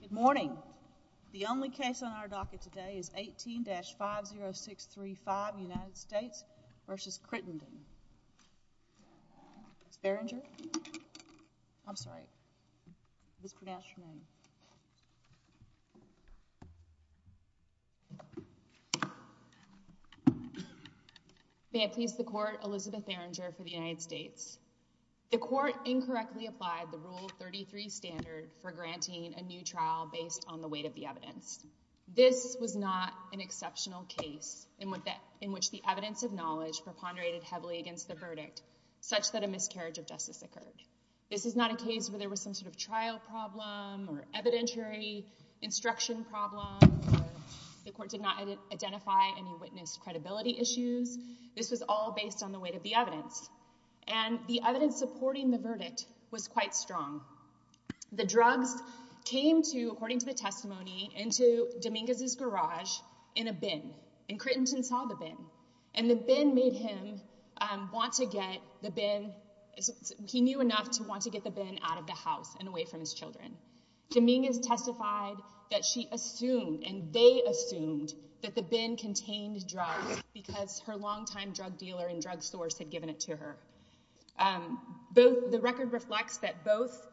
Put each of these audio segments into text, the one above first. Good morning. The only case on our docket today is 18-50635 United States v. Crittenden. Ms. Berenger? I'm sorry. Please pronounce your name. May it please the court, Elizabeth Berenger for the United States. The court incorrectly applied the Rule 33 standard for granting a new trial based on the weight of the evidence. This was not an exceptional case in which the evidence of knowledge preponderated heavily against the verdict, such that a miscarriage of justice occurred. This is not a case where there was some sort of trial problem, or evidentiary instruction problem, or the court did not identify any witness credibility issues. This was all based on the weight of the evidence. And the evidence supporting the verdict was quite strong. The drugs came to, according to the testimony, into Dominguez's garage in a bin. And Crittenden saw the bin. And the bin made him want to get the bin. He knew enough to want to get the bin out of the house and away from his children. Dominguez testified that she assumed, and they assumed, that the bin contained drugs, because her longtime drug dealer and drug source had given it to her. The record reflects that both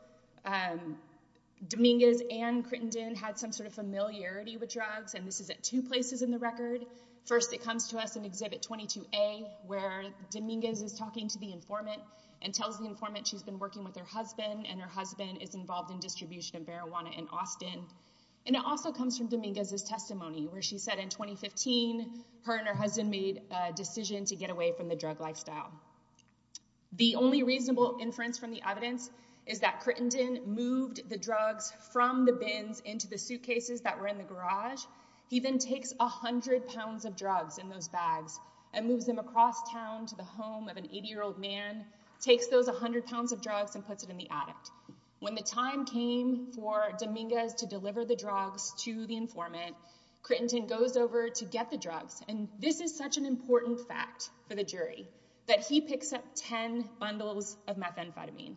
Dominguez and Crittenden had some sort of familiarity with drugs. And this is at two places in the record. First, it comes to us in Exhibit 22A, where Dominguez is talking to the informant and tells the informant she's been working with her husband, and her husband is involved in distribution of marijuana in Austin. And it also comes from Dominguez's testimony, where she said in 2015, her and her husband made a decision to get away from the drug lifestyle. The only reasonable inference from the evidence is that Crittenden moved the drugs from the bins into the suitcases that were in the garage. He then takes 100 pounds of drugs in those bags and moves them across town to the home of an 80-year-old man, takes those 100 pounds of drugs, and puts it in the attic. When the time came for Dominguez to deliver the drugs to the informant, Crittenden goes over to get the drugs. And this is such an important fact for the jury, that he picks up 10 bundles of methamphetamine.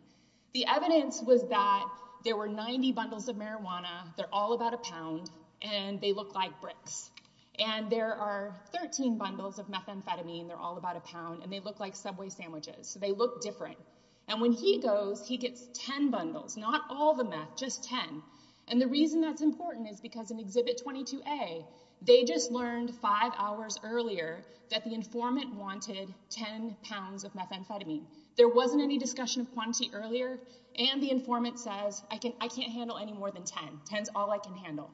The evidence was that there were 90 bundles of marijuana. They're all about a pound, and they look like bricks. And there are 13 bundles of methamphetamine. They're all about a pound, and they look like Subway sandwiches. So they look different. And when he goes, he gets 10 bundles, not all the meth, just 10. And the reason that's important is because in Exhibit 22A, they just learned five hours earlier that the informant wanted 10 pounds of methamphetamine. There wasn't any discussion of quantity earlier, and the informant says, I can't handle any more than 10. 10's all I can handle.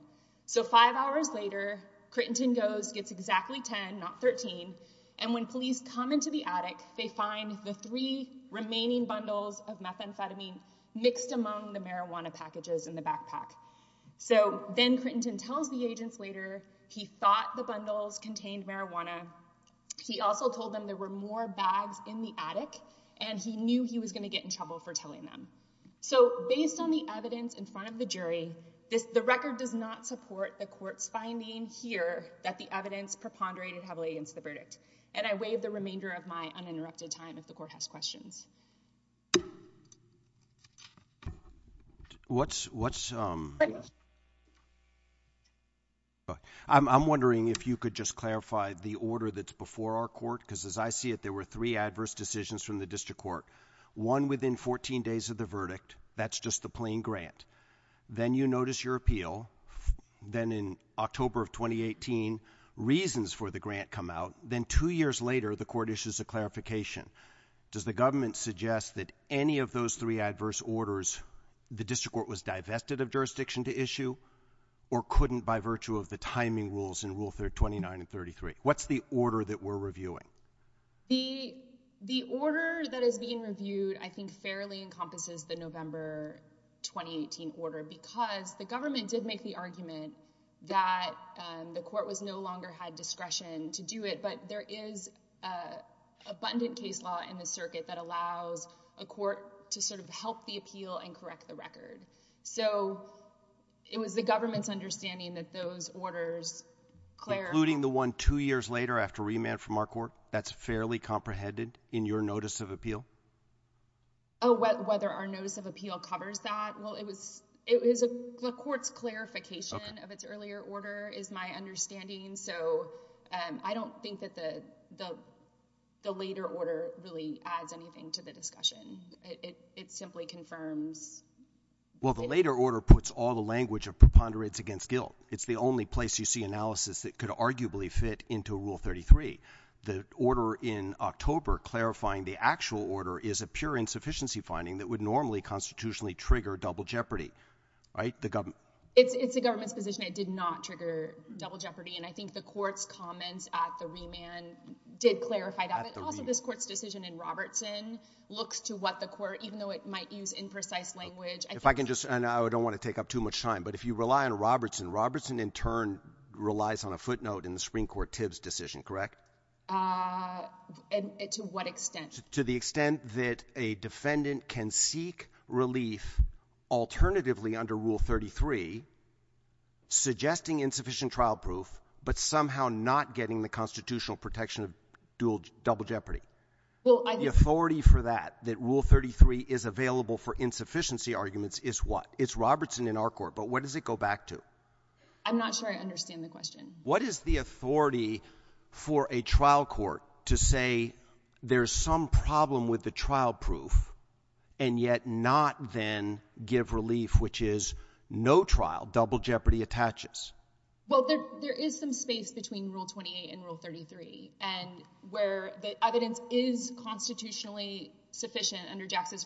So five hours later, Crittenden goes, gets exactly 10, not 13. And when police come into the attic, they find the three remaining bundles of methamphetamine mixed among the marijuana packages in the backpack. So then Crittenden tells the agents later he thought the bundles contained marijuana. He also told them there were more bags in the attic, and he knew he was going to get in trouble for telling them. So based on the evidence in front of the jury, the record does not support the court's finding here that the evidence preponderated heavily against the verdict. And I waive the remainder of my uninterrupted time if the court has questions. I'm wondering if you could just clarify the order that's before our court, because as I it, there were three adverse decisions from the district court. One within 14 days of the verdict. That's just the plain grant. Then you notice your appeal. Then in October of 2018, reasons for the grant come out. Then two years later, the court issues a clarification. Does the government suggest that any of those three adverse orders, the district court was divested of jurisdiction to issue, or couldn't by virtue of the timing rules in Rule 29 and 33? What's the order that we're reviewing? The order that is being reviewed, I think, fairly encompasses the November 2018 order because the government did make the argument that the court was no longer had discretion to do it. But there is an abundant case law in the circuit that allows a court to sort of help the appeal and correct the record. So it was the two years later after remand from our court. That's fairly comprehended in your notice of appeal? Oh, whether our notice of appeal covers that? Well, it was, it was a court's clarification of its earlier order is my understanding. So I don't think that the later order really adds anything to the discussion. It simply confirms. Well, the later order puts all the language of preponderance against guilt. It's the only place you see analysis that could arguably fit into Rule 33. The order in October clarifying the actual order is a pure insufficiency finding that would normally constitutionally trigger double jeopardy, right? It's the government's position. It did not trigger double jeopardy. And I think the court's comments at the remand did clarify that. But also this court's decision in Robertson looks to what the court, even though it might use imprecise language. If I can just, and I don't want to take up too much time, but if you rely on Robertson, Robertson in turn relies on a footnote in the Supreme Court Tibbs decision, correct? To what extent? To the extent that a defendant can seek relief alternatively under Rule 33, suggesting insufficient trial proof, but somehow not getting the constitutional protection of dual, double jeopardy. The authority for that, that Rule 33 is available for insufficiency arguments is what? It's Robertson in our court, but what does it go back to? I'm not sure I understand the question. What is the authority for a trial court to say there's some problem with the trial proof and yet not then give relief, which is no trial, double jeopardy attaches? Well, there is some space between Rule 28 and Rule 33 and where the evidence is constitutionally sufficient under Jackson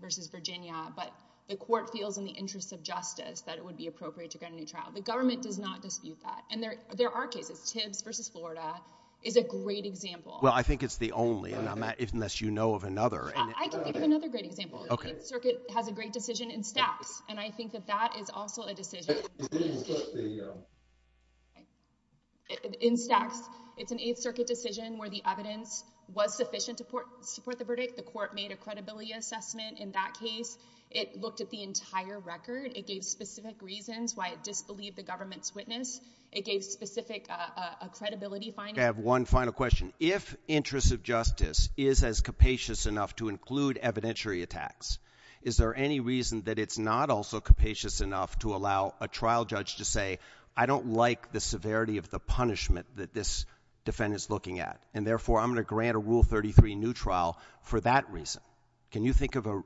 versus Virginia, but the court feels in the interest of justice that it would be appropriate to get a new trial. The government does not dispute that. And there are cases, Tibbs versus Florida is a great example. Well, I think it's the only, and unless you know of another. I can give another great example. The Eighth Circuit has a great decision in Staxx, and I think that that is also a decision in Staxx. It's an Eighth Circuit decision where the evidence was sufficient to support the verdict. The court made a credibility assessment in that case. It looked at the entire record. It gave specific reasons why it disbelieved the government's witness. It gave specific credibility findings. I have one final question. If interest of justice is as capacious enough to include evidentiary attacks, is there any reason that it's not also capacious enough to allow a trial judge to say, I don't like the severity of the punishment that this defendant's looking at, and therefore I'm going to grant a Rule 33 new trial for that reason? Can you think of a,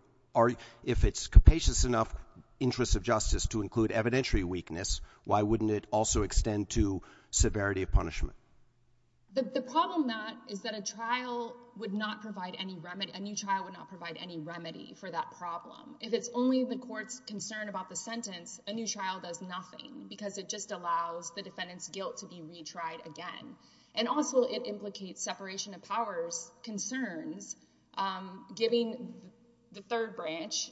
if it's capacious enough interest of justice to include evidentiary weakness, why wouldn't it also extend to severity of punishment? The problem, Matt, is that a trial would not provide any remedy, a new trial would not provide any remedy for that problem. If it's only the court's concern about the sentence, a new trial does nothing because it just allows the And also, it implicates separation of powers concerns, giving the third branch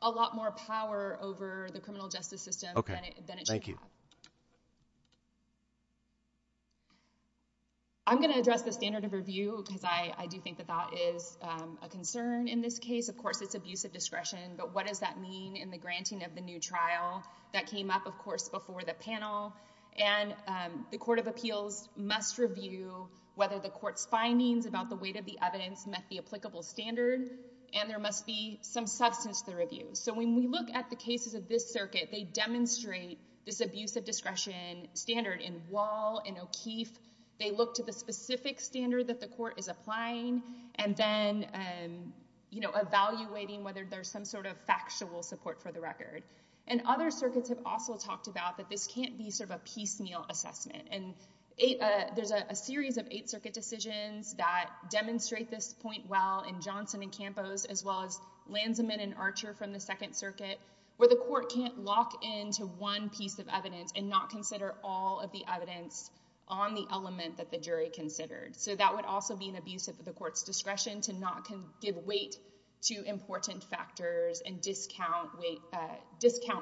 a lot more power over the criminal justice system than it should. I'm going to address the standard of review because I do think that that is a concern in this case. Of course, it's abuse of discretion, but what does that mean in the granting of the new trial? That came up, of course, before the panel, and the Court of Appeals must review whether the court's findings about the weight of the evidence met the applicable standard, and there must be some substance to the review. So when we look at the cases of this circuit, they demonstrate this abuse of discretion standard in Wall and O'Keefe. They look to the specific standard that the court is applying, and then, you know, evaluating whether there's some sort of factual support for the record. And other circuits have also talked about that this can't be sort of a piecemeal assessment, and there's a series of Eighth Circuit decisions that demonstrate this point well in Johnson and Campos, as well as Lansman and Archer from the Second Circuit, where the court can't lock into one piece of evidence and not consider all of the evidence on the element that the jury considered. So that would also be an abuse of the court's factors and discount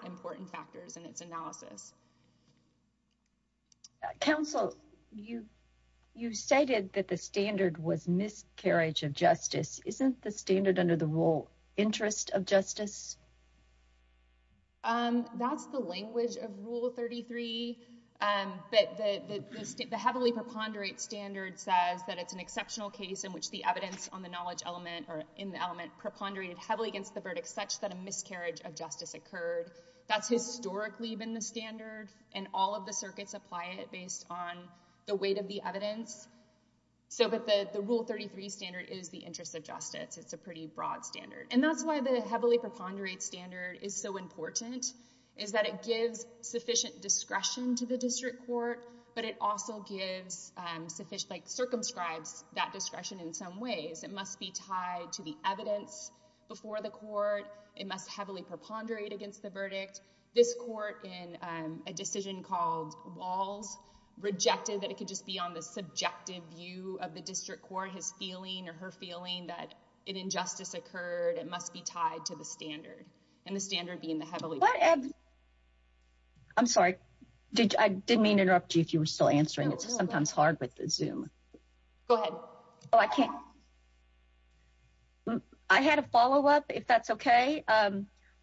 important factors in its analysis. Counsel, you cited that the standard was miscarriage of justice. Isn't the standard under the rule interest of justice? That's the language of Rule 33, but the heavily preponderate standard says that it's an exceptional case in which the evidence on the knowledge element or in the element preponderated heavily against the verdict, such that a miscarriage of justice occurred. That's historically been the standard, and all of the circuits apply it based on the weight of the evidence. But the Rule 33 standard is the interest of justice. It's a pretty broad standard. And that's why the heavily preponderate standard is so important, is that it gives sufficient discretion to the district court, but it also circumscribes that discretion in some ways. It must be tied to the evidence before the court. It must heavily preponderate against the verdict. This court in a decision called Walls rejected that it could just be on the subjective view of the district court, his feeling or her feeling that an injustice occurred. It must be tied to the standard and the standard being the heavily. I'm sorry. I didn't mean to interrupt you if you were still answering. It's sometimes hard with the Zoom. Go ahead. Oh, I can't. I had a follow-up if that's okay.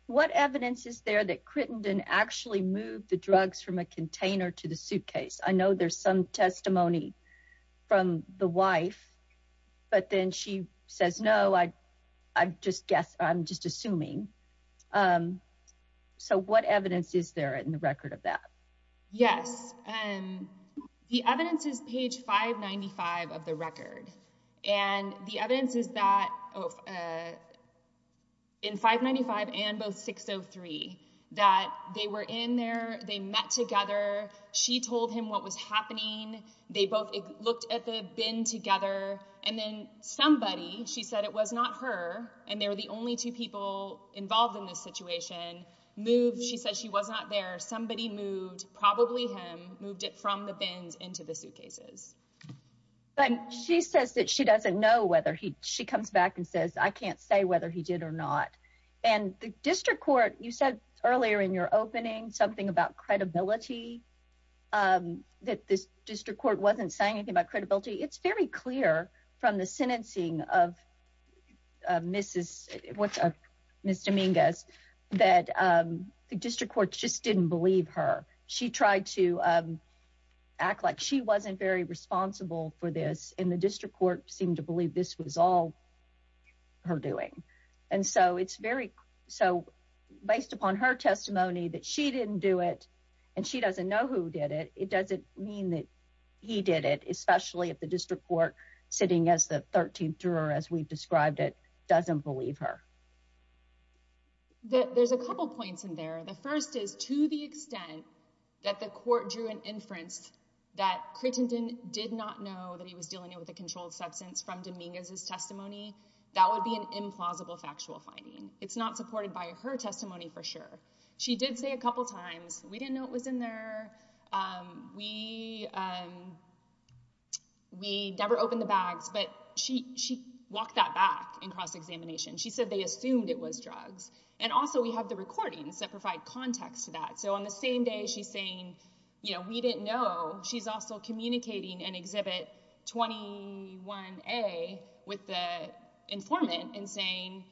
What evidence is there that Crittenden actually moved the drugs from a container to the suitcase? I know there's some testimony from the wife, but then she says, no, I just guess I'm just assuming. So what evidence is there in the page 595 of the record? The evidence is that in 595 and both 603, that they were in there, they met together. She told him what was happening. They both looked at the bin together. And then somebody, she said it was not her, and they were the only two people involved in this situation, moved. She said she was not there. Somebody moved, probably him, moved it from the bins into the suitcases. But she says that she doesn't know whether he, she comes back and says, I can't say whether he did or not. And the district court, you said earlier in your opening something about credibility, that this district court wasn't saying anything about credibility. It's very clear from the sentencing of Mrs. Dominguez that the district court just didn't believe her. She tried to act like she wasn't very responsible for this and the district court seemed to believe this was all her doing. And so it's very, so based upon her testimony that she didn't do it and she doesn't know who did it, it doesn't mean that he did it, especially at the district court sitting as the 13th juror, as we've described it, doesn't believe her. There's a couple points in there. The first is to the extent that the court drew an inference that Crittenden did not know that he was dealing with a controlled substance from Dominguez's testimony, that would be an implausible factual finding. It's not supported by her testimony, for sure. She did say a couple times, we didn't know it was in there. We never opened the bags, but she walked that back in cross-examination. She said they assumed it was drugs. And also we have the recordings that provide context to that. So on the same day she's saying, you know, we didn't know, she's also communicating in Exhibit 21A with the informant and saying,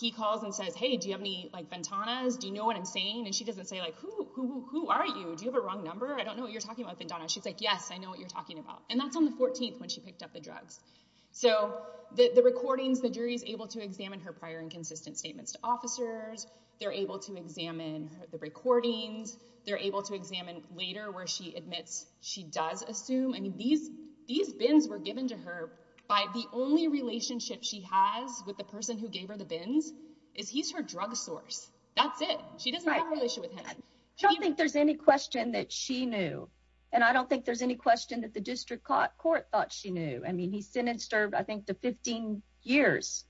he calls and says, hey, do you have any like Ventanas? Do you know what I'm saying? And she doesn't say like, who are you? Do you have a wrong number? I don't know what you're talking about, Ventana. She's like, yes, I know what you're talking about. And that's on the 14th when she picked up the drugs. So the recordings, the jury's able to examine her prior and consistent statements to officers. They're able to examine the recordings. They're able to examine later where she admits she does assume, I mean, these bins were given to her by the only relationship she has with the person who gave her the bins is he's her drug source. That's it. She doesn't have a relationship with him. I don't think there's any question that she knew. And I don't think there's any question that the district court thought she knew. I mean, he sentenced her, I think to 15 years.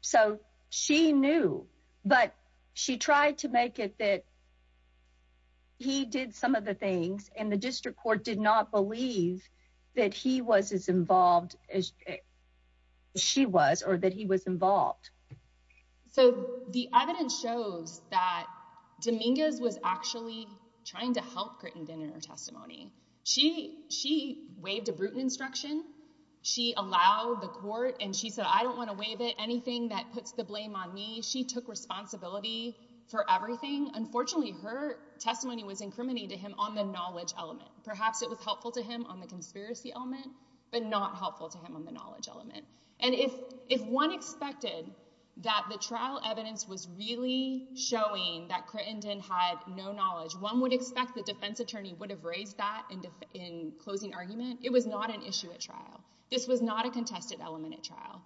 So she knew, but she tried to make it that he did some of the things and the district court did not believe that he was as involved as she was or that he was involved. So the evidence shows that Dominguez was actually trying to help Grittenden in her testimony. She waived a Bruton instruction. She allowed the court and she said, I don't want to waive it. Anything that puts the blame on me. She took responsibility for everything. Unfortunately, her testimony was incriminating to him on the knowledge element. Perhaps it was helpful to him on the conspiracy element, but not helpful to him on the knowledge element. And if one expected that the trial evidence was really showing that Grittenden had no knowledge, one would expect the defense attorney would have raised that in closing argument. It was not an issue at trial. This was not a contested element at trial.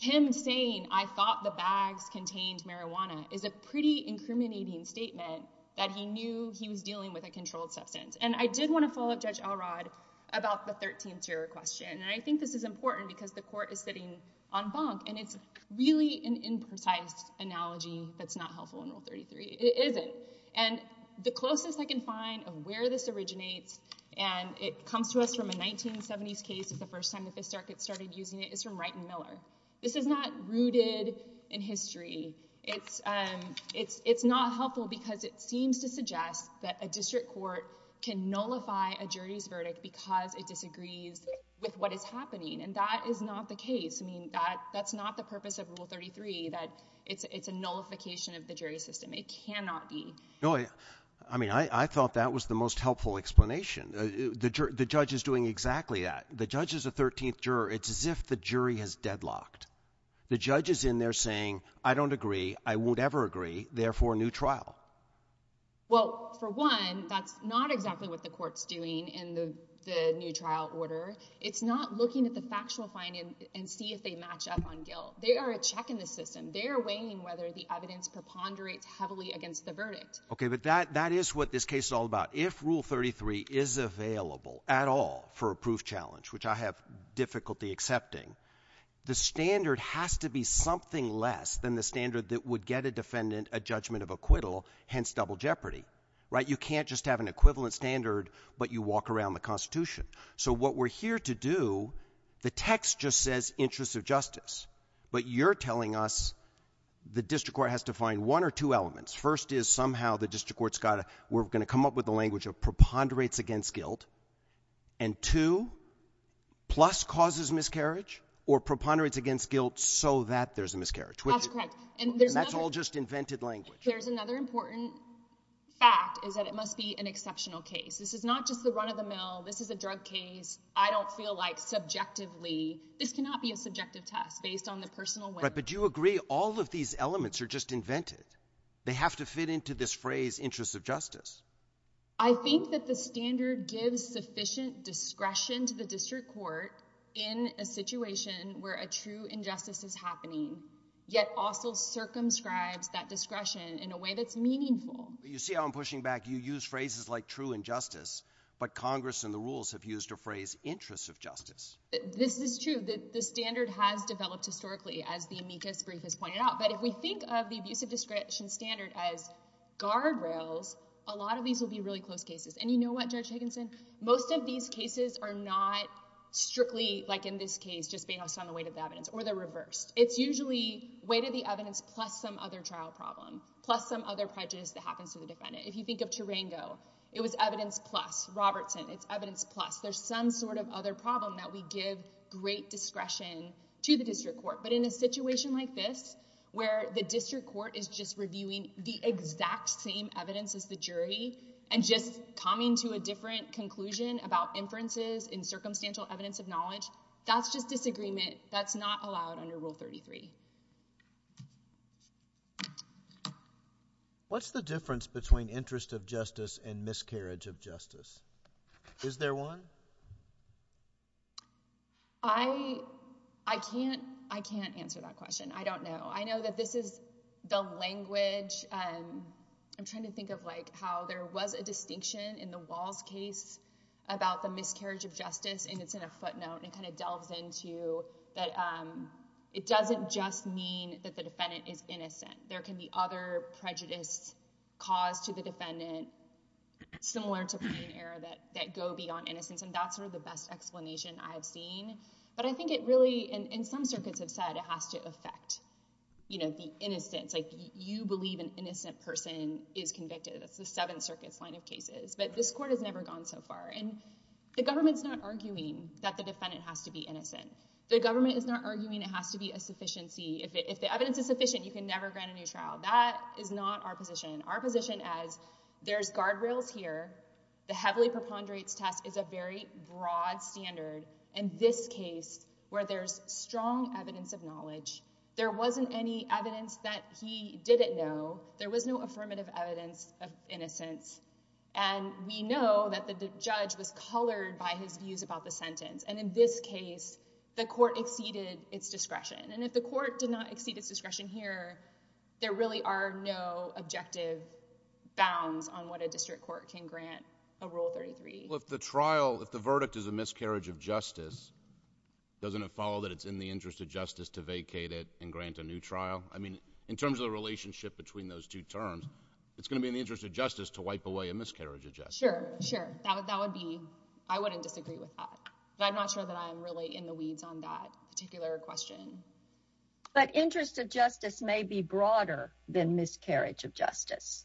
Him saying, I thought the bags contained marijuana is a pretty incriminating statement that he knew he was dealing with a controlled substance. And I did want to follow up Judge Elrod about the 13th year question. And I think this is important because the court is sitting on bunk and it's really an imprecise analogy that's not helpful in Rule 33. It isn't. And the closest I can find of where this originates, and it comes to us from a 1970s case is the first time the Fist Arckets started using it, is from Wright and Miller. This is not rooted in history. It's not helpful because it seems to suggest that a district court can nullify a case. I mean, that's not the purpose of Rule 33, that it's a nullification of the jury system. It cannot be. I mean, I thought that was the most helpful explanation. The judge is doing exactly that. The judge is a 13th juror. It's as if the jury has deadlocked. The judge is in there saying, I don't agree. I won't ever agree. Therefore, new trial. Well, for one, that's not exactly what the match up on guilt. They are a check in the system. They're weighing whether the evidence preponderates heavily against the verdict. Okay. But that is what this case is all about. If Rule 33 is available at all for a proof challenge, which I have difficulty accepting, the standard has to be something less than the standard that would get a defendant a judgment of acquittal, hence double jeopardy, right? You can't just have an equivalent standard, but you walk around the Constitution. So what we're here to do, the text just says interests of justice. But you're telling us the district court has to find one or two elements. First is somehow the district court's got to, we're going to come up with the language of preponderates against guilt. And two, plus causes miscarriage or preponderates against guilt so that there's a miscarriage. That's correct. And that's all just invented language. There's another important fact is that it must be an exceptional case. This is not just the run of the mill. This is a drug case. I don't feel like subjectively, this cannot be a subjective test based on the personal way. Right. But do you agree all of these elements are just invented? They have to fit into this phrase interests of justice. I think that the standard gives sufficient discretion to the district court in a situation where a true injustice is happening, yet also circumscribes that discretion in a way that's meaningful. You see how I'm pushing back. You use phrases like true injustice, but Congress and the rules have used a phrase interests of justice. This is true that the standard has developed historically as the amicus brief has pointed out. But if we think of the abusive discretion standard as guardrails, a lot of these will be really close cases. And you know what, Judge Higginson, most of these cases are not strictly like in this case, just based on the weight of the evidence or the reverse. It's usually weight of the evidence plus some other trial problem, plus some other prejudice that happens to the defendant. If you think of Tarango, it was evidence plus. Robertson, it's evidence plus. There's some sort of other problem that we give great discretion to the district court. But in a situation like this, where the district court is just reviewing the exact same evidence as the jury and just coming to a different conclusion about inferences in circumstantial evidence of knowledge, that's just disagreement. That's not allowed under Rule 33. What's the difference between interest of justice and miscarriage of justice? Is there one? I can't answer that question. I don't know. I know that this is the language. I'm trying to think of how there was a distinction in the Walls case about the miscarriage of justice, and it's in a footnote. It delves into that it doesn't just mean that the defendant is innocent. There can be other prejudice caused to the defendant, similar to plaintiff error, that go beyond innocence. That's the best explanation I have seen. But I think it really, and some circuits have said it has to affect the innocence. You believe an innocent person is convicted. That's the Seventh Circuit's line of cases. But this court has never gone so far. The government's not arguing that the defendant has to be innocent. The government is not arguing it has to be a sufficiency. If the evidence is sufficient, you can never grant a new trial. That is not our position. Our position is there's guardrails here. The heavily preponderance test is a very broad standard. In this case, where there's strong evidence of knowledge, there wasn't any evidence that he didn't know. There was no affirmative evidence of innocence. And we know that the judge was colored by his views about the sentence. And in this case, the court exceeded its discretion. And if the court did not exceed its discretion here, there really are no objective bounds on what a district court can grant a Rule 33. Well, if the trial, if the verdict is a miscarriage of justice, doesn't it follow that it's in the interest of justice to vacate it and grant a new trial? I mean, in terms of the relationship between those two terms, it's going to be in the interest of justice. I wouldn't disagree with that. But I'm not sure that I'm really in the weeds on that particular question. But interest of justice may be broader than miscarriage of justice.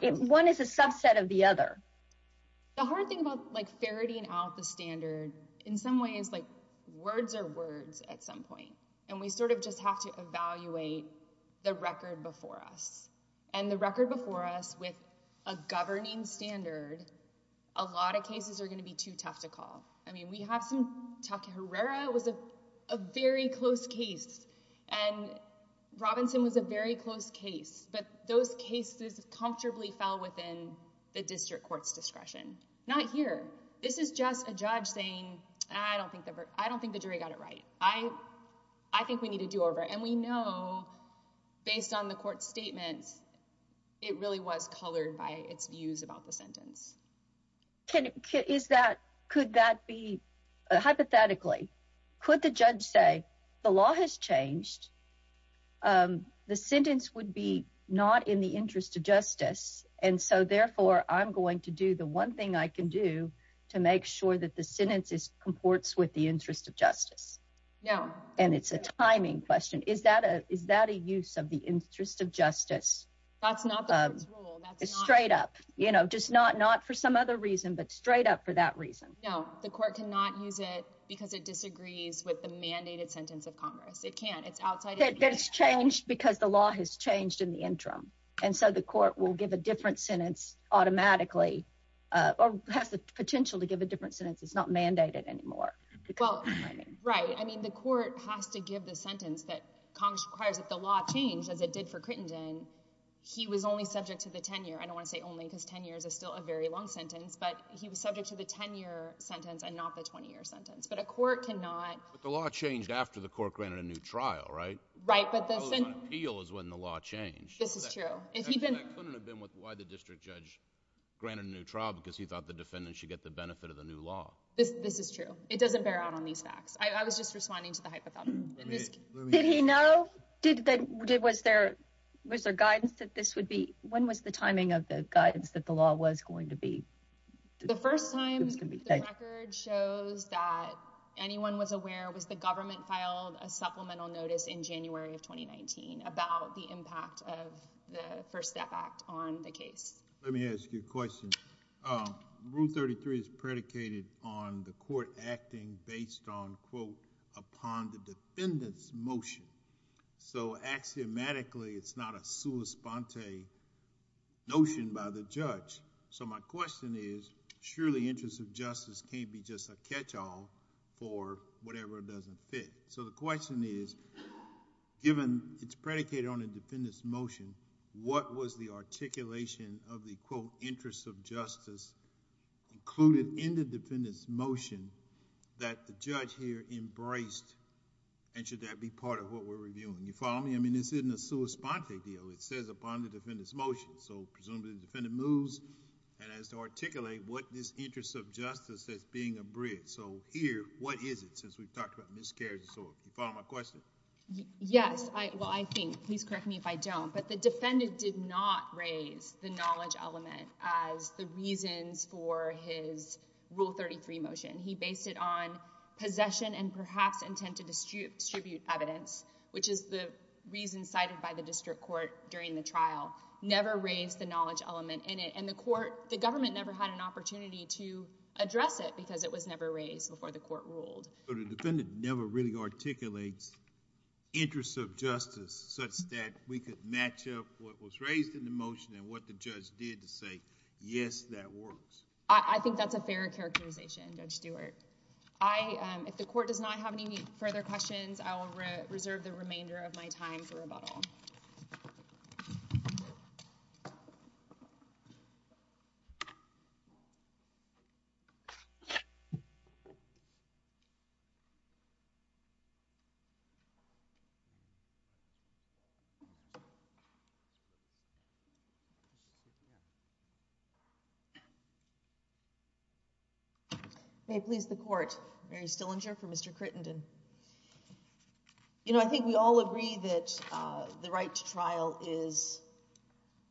One is a subset of the other. The hard thing about like ferreting out the standard, in some ways, like words are words at some point. And we sort of just have to evaluate the record before us. And the record before us with a governing standard, a lot of cases are going to be too tough to call. I mean, we have some, Tucker Herrera was a very close case. And Robinson was a very close case. But those cases comfortably fell within the district court's discretion. Not here. This is just a judge saying, I don't think the jury got it right. I think we need to do over. And we know, based on the court statements, it really was colored by its views about the sentence. Could that be hypothetically, could the judge say, the law has changed, the sentence would be not in the interest of justice. And so therefore, I'm going to do the one thing I can do to make sure that the sentence comports with the interest of justice. And it's a timing question. Is that a use of the interest of justice? That's not the rule. That's straight up. You know, just not for some other reason, but straight up for that reason. No, the court cannot use it because it disagrees with the mandated sentence of Congress. It can't. It's outside. It's changed because the law has changed in the interim. And so the court will give a different sentence automatically or has the potential to give a different sentence. It's mandated anymore. Well, right. I mean, the court has to give the sentence that Congress requires that the law changed as it did for Crittenden. He was only subject to the 10 year. I don't want to say only because 10 years is still a very long sentence, but he was subject to the 10 year sentence and not the 20 year sentence. But a court cannot. But the law changed after the court granted a new trial, right? Right. But the appeal is when the law changed. This is true. And he couldn't have been with why the district judge granted a new trial because he thought the this is true. It doesn't bear out on these facts. I was just responding to the hypothetical. Did he know? Was there guidance that this would be? When was the timing of the guidance that the law was going to be? The first time the record shows that anyone was aware was the government filed a supplemental notice in January of 2019 about the impact of the First Step Act on the case. Let me ask you a question. Rule 33 is predicated on the court acting based on, quote, upon the defendant's motion. So axiomatically, it's not a sua sponte notion by the judge. So my question is, surely interest of justice can't be just a catch all for whatever doesn't fit. So the question is, given it's predicated on a defendant's motion, what was the articulation of the, quote, interest of justice included in the defendant's motion that the judge here embraced? And should that be part of what we're reviewing? You follow me? I mean, this isn't a sua sponte deal. It says upon the defendant's motion. So presumably the defendant moves and has to articulate what this interest of justice as being a bridge. So here, what is it since we've talked about miscarriage of sort? You follow my question? Yes. Well, I think, please correct me if I don't, but the defendant did not raise the knowledge element as the reasons for his Rule 33 motion. He based it on possession and perhaps intent to distribute evidence, which is the reason cited by the district court during the trial. Never raised the knowledge element in it. And the court, the government never had an opportunity to address it because it was never raised before the court ruled. So the defendant never really articulates interest of justice such that we could match up what was raised in the motion and what the judge did to say, yes, that works. I think that's a fair characterization, Judge Stewart. I, if the court does not have any further questions, I will reserve the remainder of my time for rebuttal. May it please the court. Mary Stillinger for Mr. Crittenden. You know, I think we all agree that the right to trial is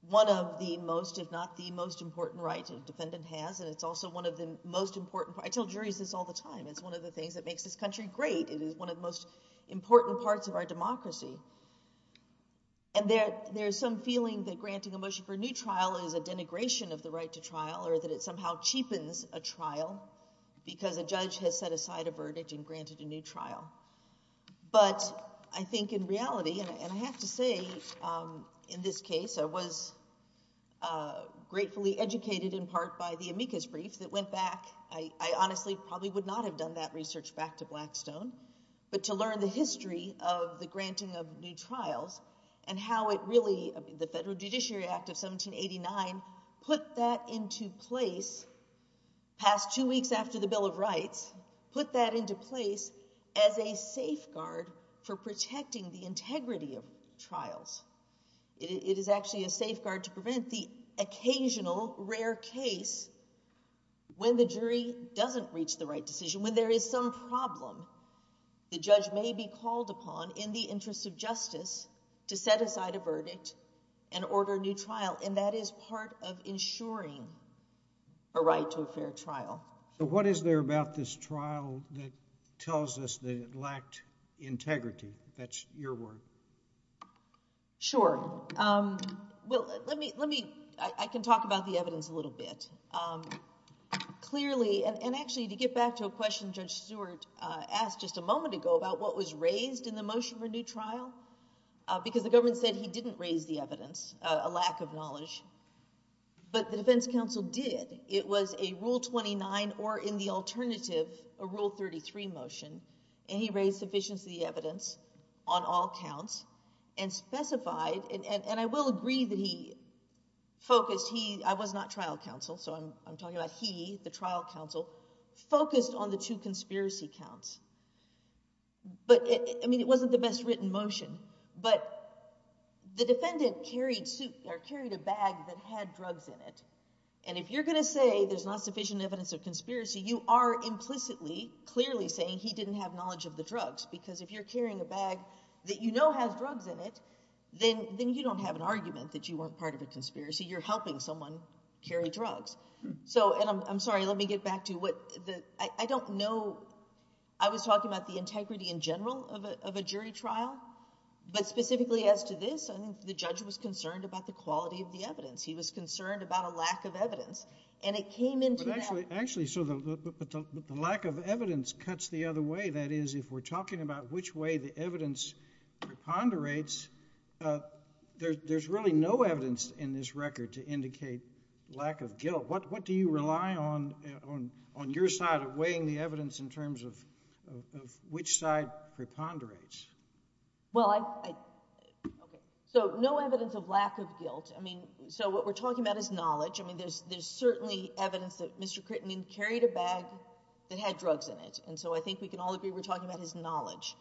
one of the most, if not the most important rights a defendant has, and it's also one of the most important. I tell juries this all the time. It's one of the things that makes this country great. It is one of the most important parts of our democracy. And there's some feeling that granting a motion for a new trial is a denigration of the right to trial or that it somehow cheapens a trial because a judge has set aside a verdict and granted a new trial. But I think in reality, and I have to say in this case, I was gratefully educated in part by the amicus brief that went back. I honestly probably would not have done that research back to Blackstone, but to learn the history of the granting of new trials and how it really, the Federal Judiciary Act of 1789, put that into place past two weeks after the Bill of Rights, put that into place as a safeguard for protecting the integrity of trials. It is actually a safeguard to prevent the occasional rare case when the jury doesn't reach the right decision, when there is some problem the judge may be called upon in the interest of justice to set aside a verdict and order a new trial. And that is part of ensuring a right to a fair trial. So what is there about this trial that tells us that it lacked integrity? That's your word. Sure. Well, let me, I can talk about the evidence a little bit. Clearly, and actually to get back to a question Judge Stewart asked just a moment ago about what was raised in the motion for a new trial, because the government said he didn't raise the evidence, a lack of knowledge, but the defense counsel did. It was a Rule 29 or in the alternative, a Rule 33 motion, and he raised sufficiency of the evidence on all counts and specified, and I will agree that he focused, he, I was not trial counsel, so I'm talking about he, the trial counsel, focused on the two conspiracy counts. But I mean, it wasn't the best written motion, but the defendant carried a bag that had drugs in it. And if you're going to say there's not sufficient evidence of conspiracy, you are implicitly, clearly saying he didn't have knowledge of the drugs. Because if you're carrying a bag that you know has drugs in it, then you don't have an argument that you weren't part of a conspiracy. You're helping someone carry drugs. So, and I'm sorry, let me get back to what the, I don't know, I was talking about the integrity in general of a jury trial, but specifically as to this, I think the judge was concerned about the quality of the evidence. He was concerned about a lack of evidence, and it came into that. Actually, so the lack of evidence cuts the other way. That is, we're talking about which way the evidence preponderates, there's really no evidence in this record to indicate lack of guilt. What do you rely on, on your side of weighing the evidence in terms of which side preponderates? Well, I, okay, so no evidence of lack of guilt. I mean, so what we're talking about is knowledge. I mean, there's certainly evidence that Mr. Crittenden carried a bag that had drugs in it. And so I think we can all agree we're talking about his knowledge.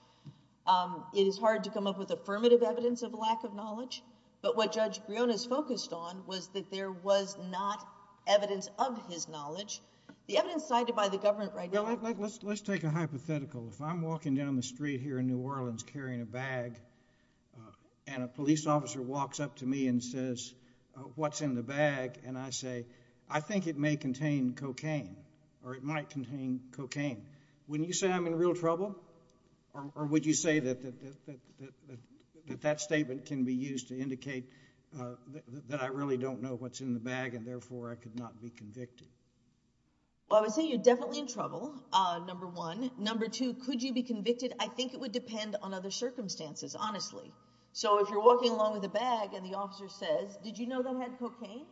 It is hard to come up with affirmative evidence of lack of knowledge, but what Judge Brion is focused on was that there was not evidence of his knowledge. The evidence cited by the government right now. Let's take a hypothetical. If I'm walking down the street here in New Orleans carrying a bag, and a police officer walks up to me and says, what's in the bag? And I say, I think it may contain cocaine, or it might contain cocaine. When you say I'm in real trouble, or would you say that that statement can be used to indicate that I really don't know what's in the bag, and therefore I could not be convicted? Well, I would say you're definitely in trouble, number one. Number two, could you be convicted? I think it would depend on other circumstances, honestly. So if you're walking along with a bag and the officer says, did you know that had cocaine?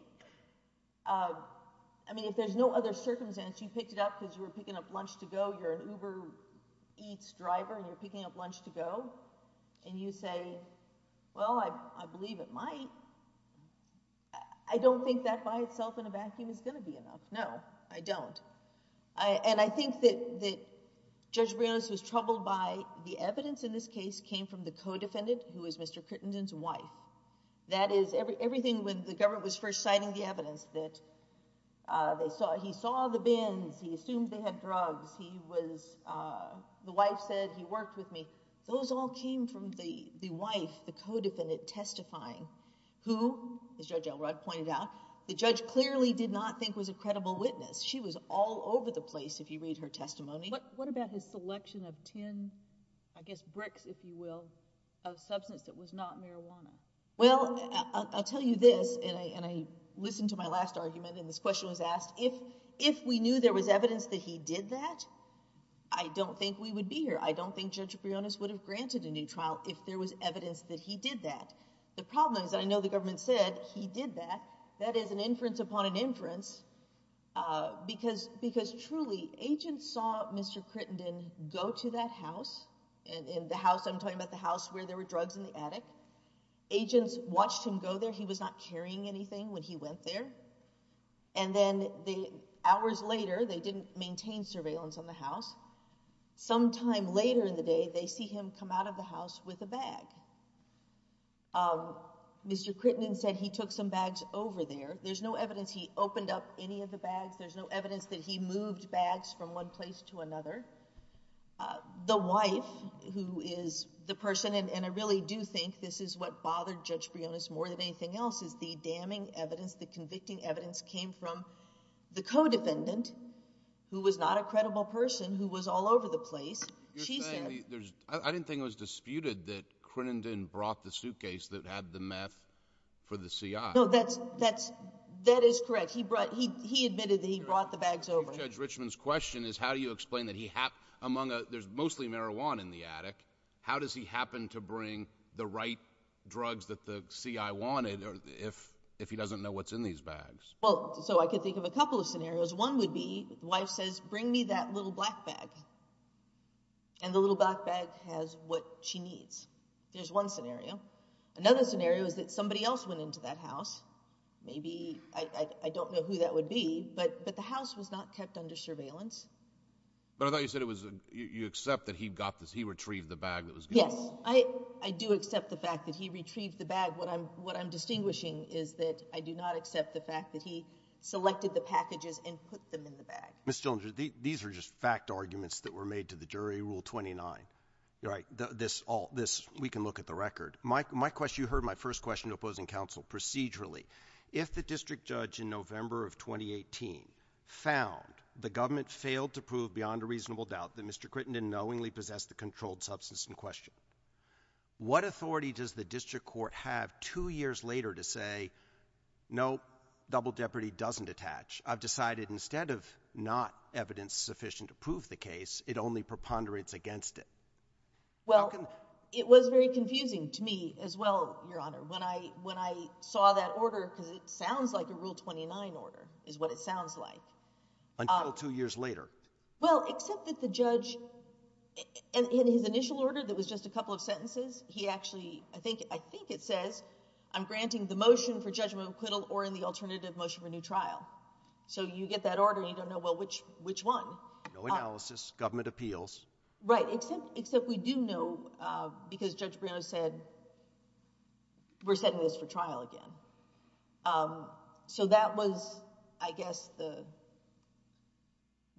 I mean, if there's no other circumstance, you picked it up because you were Eats driver and you're picking up lunch to go, and you say, well, I believe it might. I don't think that by itself in a vacuum is going to be enough. No, I don't. And I think that Judge Brion was troubled by the evidence in this case came from the co-defendant, who was Mr. Crittenden's wife. That is, everything when the government was first citing the evidence that they saw, he saw the bins, he assumed they had drugs, he was, the wife said he worked with me. Those all came from the wife, the co-defendant testifying, who, as Judge Elrod pointed out, the judge clearly did not think was a credible witness. She was all over the place, if you read her testimony. What about his selection of 10, I guess bricks, if you will, of substance that was not marijuana? Well, I'll tell you this, and I listened to my last argument and this question was asked, if we knew there was evidence that he did that, I don't think we would be here. I don't think Judge Brionis would have granted a new trial if there was evidence that he did that. The problem is that I know the government said he did that. That is an inference upon an inference because truly agents saw Mr. Crittenden go to that house, and the house, I'm talking about the house where there were drugs in the attic. Agents watched him go there. He was not carrying anything when he went there, and then the hours later, they didn't maintain surveillance on the house. Sometime later in the day, they see him come out of the house with a bag. Mr. Crittenden said he took some bags over there. There's no evidence he opened up any of the bags. There's no evidence that he moved bags from one place to another. The wife, who is the person and I really do think this is what bothered Judge Brionis more than anything else, is the damning evidence, the convicting evidence came from the co-defendant, who was not a credible person, who was all over the place. I didn't think it was disputed that Crittenden brought the suitcase that had the meth for the CI. No, that is correct. He admitted that he brought the bags over. Judge Richman's question is how do you explain that there's mostly marijuana in the attic. How does he happen to bring the right drugs that the CI wanted if he doesn't know what's in these bags? Well, so I could think of a couple of scenarios. One would be, the wife says, bring me that little black bag, and the little black bag has what she needs. There's one scenario. Another scenario is that somebody else went into that house. Maybe, I don't know who that would be, but the house was not kept under surveillance. But I thought you said it was, you accept that he retrieved the bag that was given. Yes, I do accept the fact that he retrieved the bag. What I'm distinguishing is that I do not accept the fact that he selected the packages and put them in the bag. Ms. Dillinger, these are just fact arguments that were made to the jury, Rule 29. We can look at the record. You heard my first question to opposing counsel. Procedurally, if the district judge in November of 2018 found the government failed to prove beyond a reasonable doubt that Mr. Crittenden knowingly possessed the controlled substance in question, what authority does the district court have two years later to say, nope, double jeopardy doesn't attach? I've decided instead of not evidence sufficient to prove the case, it only preponderates against it. Well, it was very confusing to me as well, Your Honor, when I saw that order, because it sounds like a Rule 29 order, is what it sounds like. Until two years later. Well, except that the judge, in his initial order that was just a couple of sentences, he actually, I think it says, I'm granting the motion for judgment of acquittal or in the alternative motion for new trial. So you get that order and you don't know which one. No analysis, government appeals. Right, except we do know because Judge Briono said, we're setting this for trial again. So that was, I guess, the,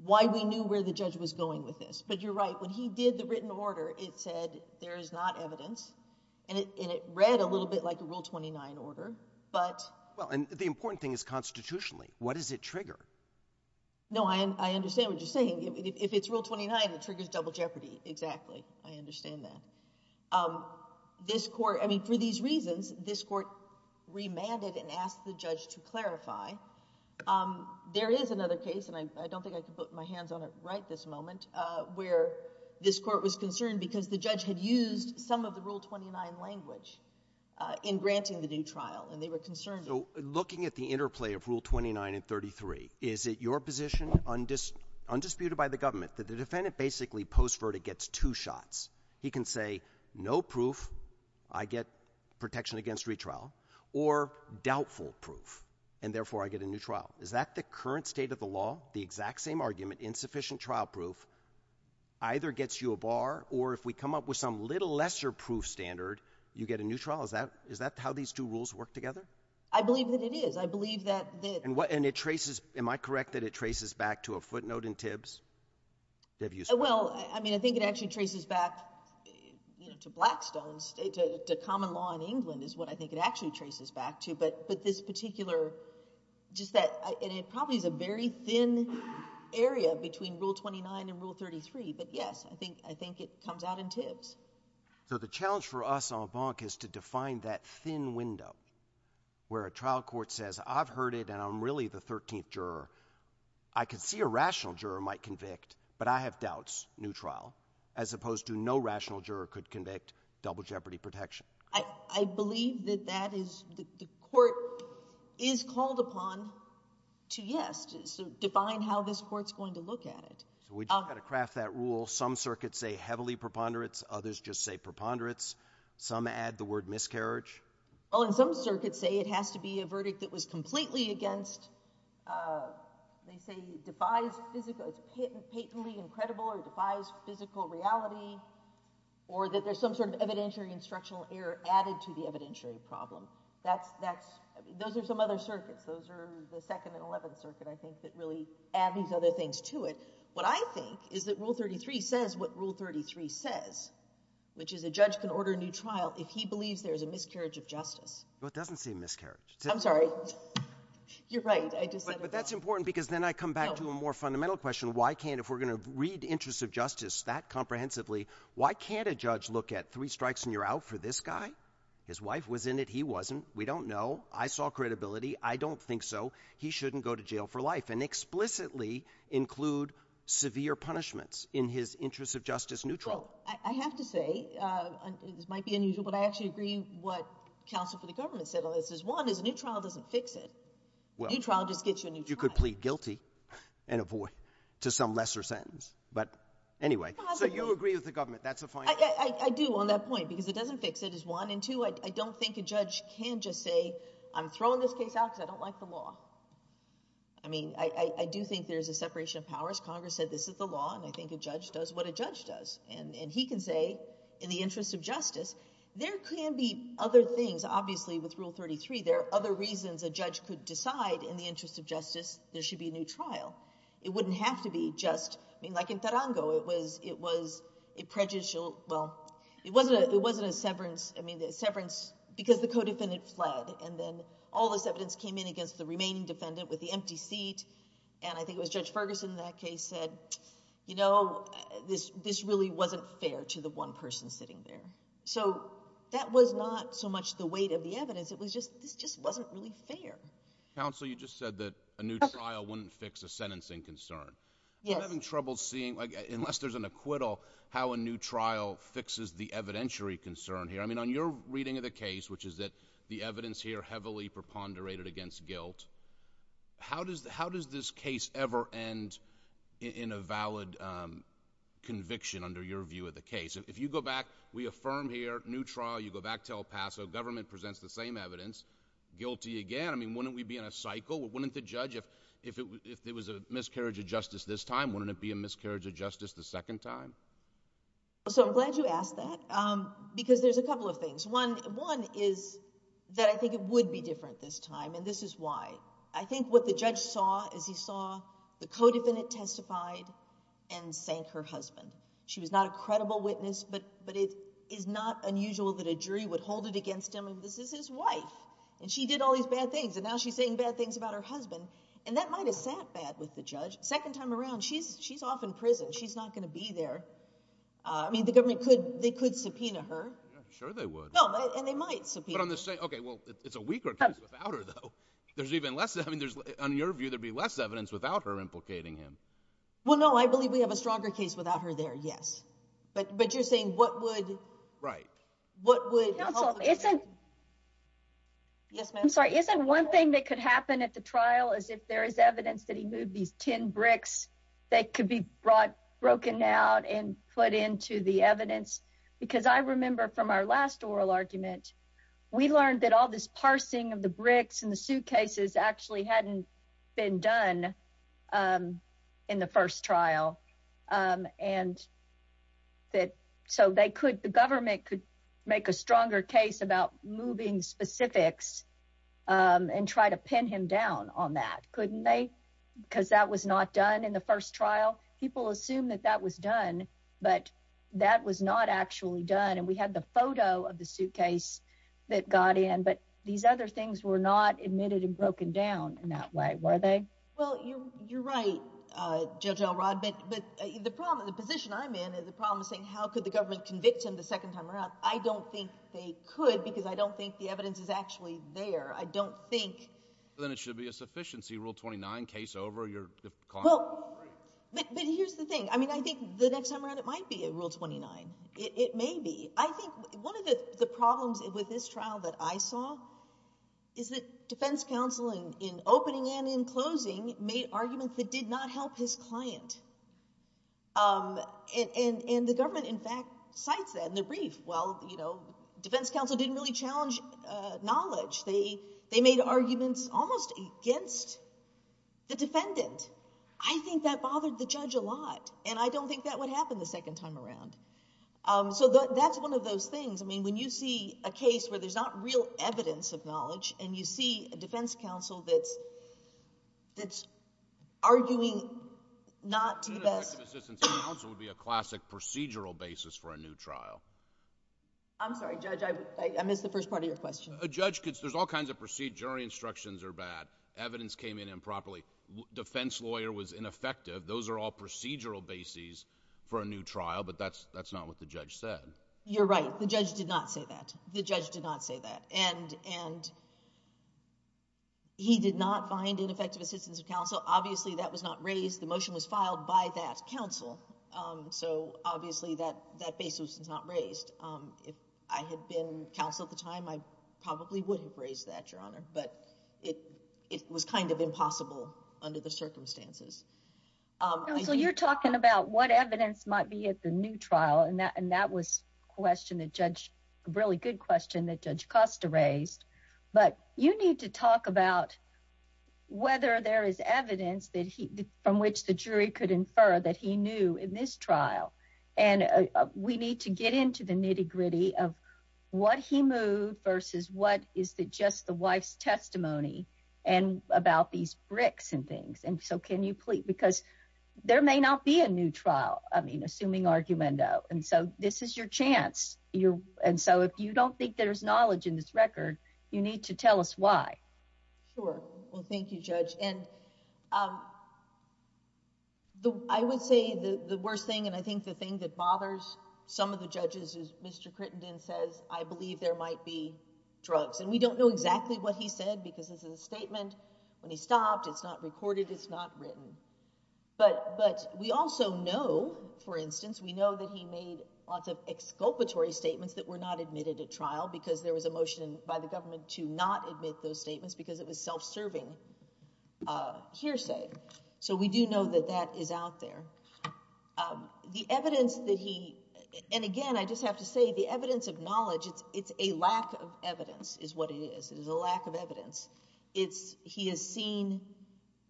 why we knew where the judge was going with this. But you're right, when he did the written order, it said there is not evidence. And it read a little bit like a Rule 29 order. But, well, and the important thing is constitutionally, what does it trigger? No, I understand what you're saying. If it's Rule 29, it triggers double jeopardy. Exactly. I understand that. This court, I mean, for these reasons, this court remanded and asked the judge to clarify. There is another case, and I don't think I can put my hands on it right this moment, where this court was concerned because the judge had used some of the Rule 29 language in granting the new trial. And they were concerned. So looking at the interplay of Rule 29 and 33, is it your position, undisputed by the government, that the defendant basically post-verdict gets two shots? He can say, no proof, I get protection against retrial, or doubtful proof, and therefore I get a new trial. Is that the current state of the law, the exact same argument, insufficient trial proof, either gets you a bar, or if we come up with some little lesser proof standard, you get a new trial? Is that how these two rules work together? I believe that it is. I believe that. And it traces, am I correct that it traces back to a footnote in Tibbs? Well, I mean, I think it actually traces back to Blackstone, to common law in England is what I think it actually traces back to. But this particular, just that, and it probably is a very thin area between Rule 29 and Rule 33. But yes, I think it comes out in Tibbs. So the challenge for us en banc is to define that thin window, where a trial court says, I've heard it, and I'm really the 13th juror. I could see a rational juror might convict, but I have doubts, new trial, as opposed to no rational juror could convict, double jeopardy protection. I believe that that is, the court is called upon to yes, to define how this court's going to look at it. We've got to craft that rule. Some circuits say heavily preponderance, others just say preponderance, some add the word miscarriage. Well, and some circuits say it has to be a verdict that was completely against, they say defies physical, it's patently incredible or defies physical reality, or that there's some sort of evidentiary instructional error added to the evidentiary problem. Those are some other circuits. Those are the 2nd and 11th circuit, I think, that really add these other things to it. What I think is that Rule 33 says what Rule 33 says, which is a judge can order a new trial if he believes there is a miscarriage of justice. Well, it doesn't say miscarriage. I'm sorry. You're right, I just said it wrong. But that's important because then I come back to a more fundamental question, why can't, if we're going to read interest of justice that comprehensively, why can't a judge look at 3 strikes and you're out for this guy? His wife was in it, he wasn't, we don't know, I saw credibility, I don't think so, he shouldn't go to jail for life, and explicitly include severe punishments in his interest of justice neutral. I have to say, this might be unusual, but I actually agree what counsel for the government said on this is one, is a new trial doesn't fix it. A new trial just gets you a new trial. You could plead guilty and avoid to some lesser sentence. But anyway, so you agree with the government, that's a fine point. I do on that point, because it doesn't fix it is one, and two, I don't think a judge can just say, I'm throwing this case out because I don't like the law. I mean, I do think there's a separation of powers. Congress said this is the does, and he can say, in the interest of justice, there can be other things, obviously with rule 33, there are other reasons a judge could decide in the interest of justice, there should be a new trial. It wouldn't have to be just, I mean, like in Tarango, it was, it was a prejudicial, well, it wasn't a, it wasn't a severance. I mean, the severance, because the codefendant fled, and then all this evidence came in against the remaining defendant with the empty seat. And I think it was Judge Ferguson in that case said, you know, this, this really wasn't fair to the one person sitting there. So that was not so much the weight of the evidence, it was just, this just wasn't really fair. Counsel, you just said that a new trial wouldn't fix a sentencing concern. Yes. I'm having trouble seeing, like, unless there's an acquittal, how a new trial fixes the evidentiary concern here. I mean, on your reading of the case, which is that the evidence here heavily preponderated against guilt, how does, how does this case ever end in a valid conviction under your view of the case? If you go back, we affirm here, new trial, you go back to El Paso, government presents the same evidence, guilty again. I mean, wouldn't we be in a cycle? Wouldn't the judge, if, if it was a miscarriage of justice this time, wouldn't it be a miscarriage of justice the second time? So I'm glad you asked that, because there's a couple of things. One, one is that I think it would be different this time, and this is why. I think what the judge saw is he saw the co-defendant testified and sank her husband. She was not a credible witness, but, but it is not unusual that a jury would hold it against him, and this is his wife, and she did all these bad things, and now she's saying bad things about her husband, and that might have sat bad with the judge. Second time around, she's, she's off in prison. She's not going to be there. I mean, the government could, they could subpoena her. No, and they might subpoena her. Okay, well, it's a weaker case without her, though. There's even less, I mean, there's, on your view, there'd be less evidence without her implicating him. Well, no, I believe we have a stronger case without her there, yes, but, but you're saying what would, right, what would, counsel, isn't, yes ma'am, I'm sorry, isn't one thing that could happen at the trial is if there is evidence that he moved these tin bricks that could be brought, we learned that all this parsing of the bricks and the suitcases actually hadn't been done in the first trial, and that, so they could, the government could make a stronger case about moving specifics and try to pin him down on that, couldn't they, because that was not done in the first trial. People assume that that was done, but that was not actually done, and we had the photo of the suitcase that got in, but these other things were not admitted and broken down in that way, were they? Well, you're, you're right, Judge Elrod, but, but the problem, the position I'm in is the problem is saying how could the government convict him the second time around. I don't think they could, because I don't think the evidence is actually there. I don't think. Then it should be a sufficiency, rule 29, case over, you're. Well, but, but here's the thing, I mean, I think the next time around, it might be a rule 29. It may be. I think one of the problems with this trial that I saw is that defense counsel, in opening and in closing, made arguments that did not help his client, and, and, and the government, in fact, cites that in the brief. Well, you know, defense counsel didn't really challenge knowledge. They, they made arguments almost against the defendant. I think that bothered the judge a lot, and I don't think that would happen the second time around. Um, so that, that's one of those things. I mean, when you see a case where there's not real evidence of knowledge, and you see a defense counsel that's, that's arguing not to the best... A defense counsel would be a classic procedural basis for a new trial. I'm sorry, Judge, I, I missed the first part of your question. A judge could, there's all kinds of procedure, jury instructions are bad, evidence came in improperly, defense lawyer was trial, but that's, that's not what the judge said. You're right. The judge did not say that. The judge did not say that, and, and he did not find ineffective assistance of counsel. Obviously, that was not raised. The motion was filed by that counsel. Um, so obviously, that, that basis was not raised. Um, if I had been counsel at the time, I probably would have raised that, Your Honor, but it, it was kind of impossible under the circumstances. Um... Counsel, you're talking about what evidence might be at the new trial, and that, and that was a question that Judge, a really good question that Judge Costa raised, but you need to talk about whether there is evidence that he, from which the jury could infer that he knew in this trial, and, uh, we need to get into the nitty gritty of what he moved versus what is the, just the wife's testimony, and about these bricks and things, and so can you please, because there may not be a new trial, I mean, assuming argumento, and so this is your chance. You're, and so if you don't think there's knowledge in this record, you need to tell us why. Sure. Well, thank you, Judge, and, um, I would say the, the worst thing, and I think the thing that bothers some of the judges is Mr. Crittenden says, I believe there might be drugs, and we don't know exactly what he said, because it's a statement, when he stopped, it's not recorded, it's not written, but, but we also know, for instance, we know that he made lots of exculpatory statements that were not admitted at trial, because there was a motion by the government to not admit those statements, because it was self-serving, uh, hearsay, so we do know that that is out there. The evidence that he, and again, I just have to say the evidence of knowledge, it's, it's a lack of evidence, is what it is. It is a lack of evidence. It's, he has seen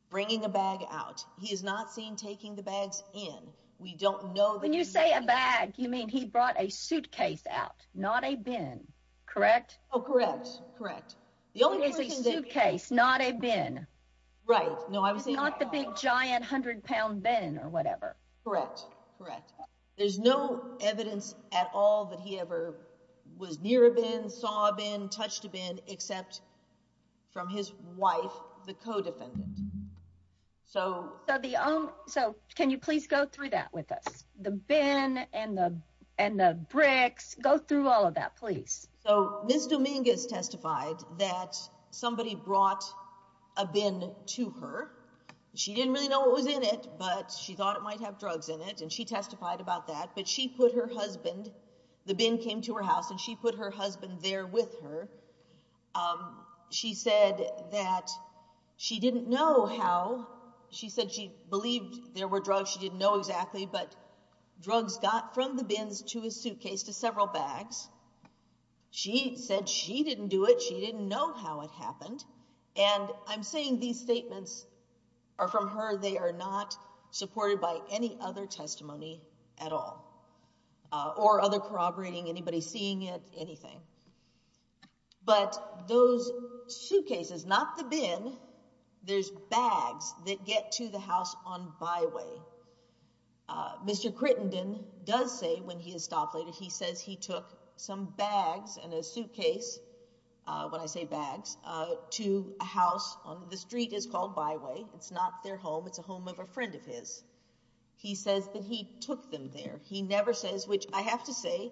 bringing a bag out. He has not seen taking the bags in. We don't know. When you say a bag, you mean he brought a suitcase out, not a bin, correct? Oh, correct, correct. The only thing is a suitcase, not a bin. Right, no, I was not the big giant hundred pound bin or whatever. Correct, correct. There's no evidence at all that he ever was near a bin, saw a bin, touched a bin, except from his wife, the co-defendant. So, so the only, so can you please go through that with us? The bin and the, and the bricks, go through all of that, please. So, Ms. Dominguez testified that somebody brought a bin to her. She didn't really know what was in it, but she thought it might have drugs in it, and she testified about that, but she put her husband, the bin came to her house, and she put her husband there with her. She said that she didn't know how, she said she believed there were drugs, she didn't know exactly, but drugs got from the bins to his suitcase to several bags. She said she didn't do it, she didn't know how it happened, and I'm saying these statements are from her, they are not supported by any other testimony at all, or other corroborating, anybody seeing it, anything. But those suitcases, not the bin, there's bags that get to the house on byway. Mr. Crittenden does say when he is stopped later, he says he took some bags and a is called byway, it's not their home, it's a home of a friend of his. He says that he took them there. He never says, which I have to say,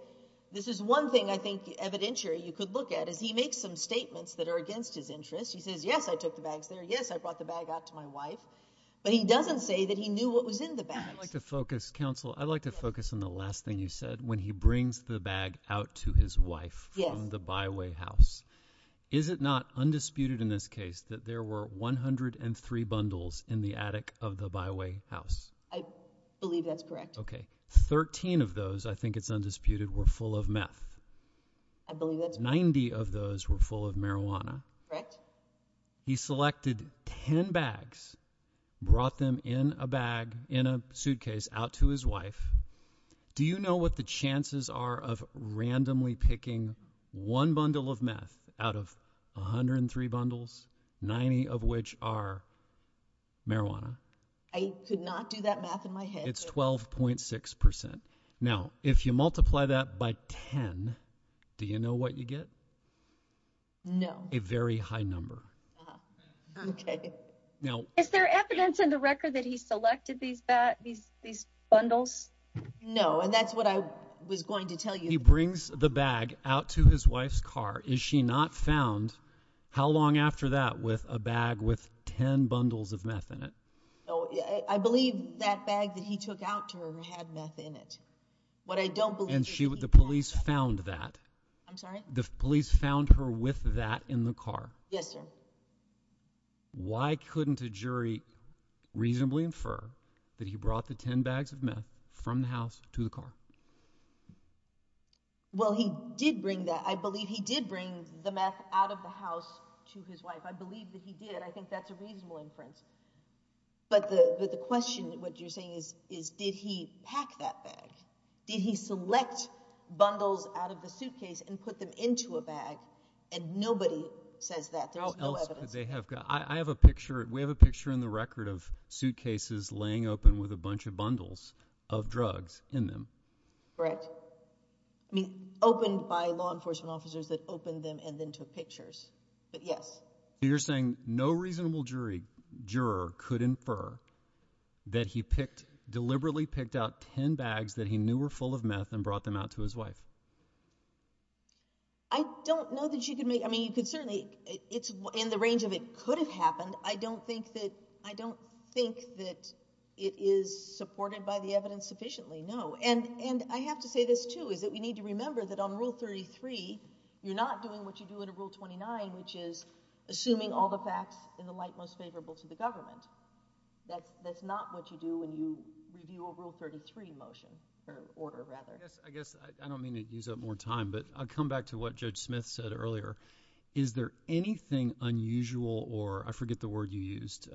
this is one thing I think evidentiary you could look at, is he makes some statements that are against his interest. He says, yes, I took the bags there, yes, I brought the bag out to my wife, but he doesn't say that he knew what was in the bag. I'd like to focus, counsel, I'd like to focus on the last thing you said, when he brings the bag out to his wife from the byway house, is it not undisputed in this case that there were 103 bundles in the attic of the byway house? I believe that's correct. Okay, 13 of those, I think it's undisputed, were full of meth. I believe that's right. 90 of those were full of marijuana. Correct. He selected 10 bags, brought them in a bag, in a suitcase out to his wife. Do you know what the chances are of randomly picking one bundle of meth out of 103 bundles, 90 of which are marijuana? I could not do that math in my head. It's 12.6 percent. Now, if you multiply that by 10, do you know what you get? No. A very high number. Okay. Now, is there evidence in the record that he selected these bundles? No, and that's what I was going to tell you. He brings the bag out to his wife's car. Is she not found, how long after that, with a bag with 10 bundles of meth in it? Oh, I believe that bag that he took out to her had meth in it. What I don't believe... And the police found that. I'm sorry? The police found her with that in the car. Yes, sir. Why couldn't a jury reasonably infer that he brought the 10 bags of meth from the house to the car? Well, he did bring that. I believe he did bring the meth out of the house to his wife. I believe that he did. I think that's a reasonable inference. But the question, what you're saying is, did he pack that bag? Did he select bundles out of the suitcase and put them into a bag? And nobody says that. There's no evidence. I have a picture. We have a picture in the record of suitcases laying open with a bunch of bundles of drugs in them. Correct. I mean, opened by law enforcement officers that opened them and then took pictures. But yes. You're saying no reasonable jury, juror, could infer that he picked, deliberately picked out 10 bags that he knew were full of meth and brought them out to his wife? I don't know that you could make... I mean, you could certainly... It's in the range of it could have happened. I don't think that it is supported by the evidence sufficiently, no. And I have to say this, too, is that we need to remember that on Rule 33, you're not doing what you do under Rule 29, which is assuming all the facts in the light most favorable to the government. That's not what you do when you review a Rule 33 motion, or order, rather. I guess I don't mean to use up more time, but I'll come back to what Judge Smith said earlier. Is there anything unusual or, I forget the word you used,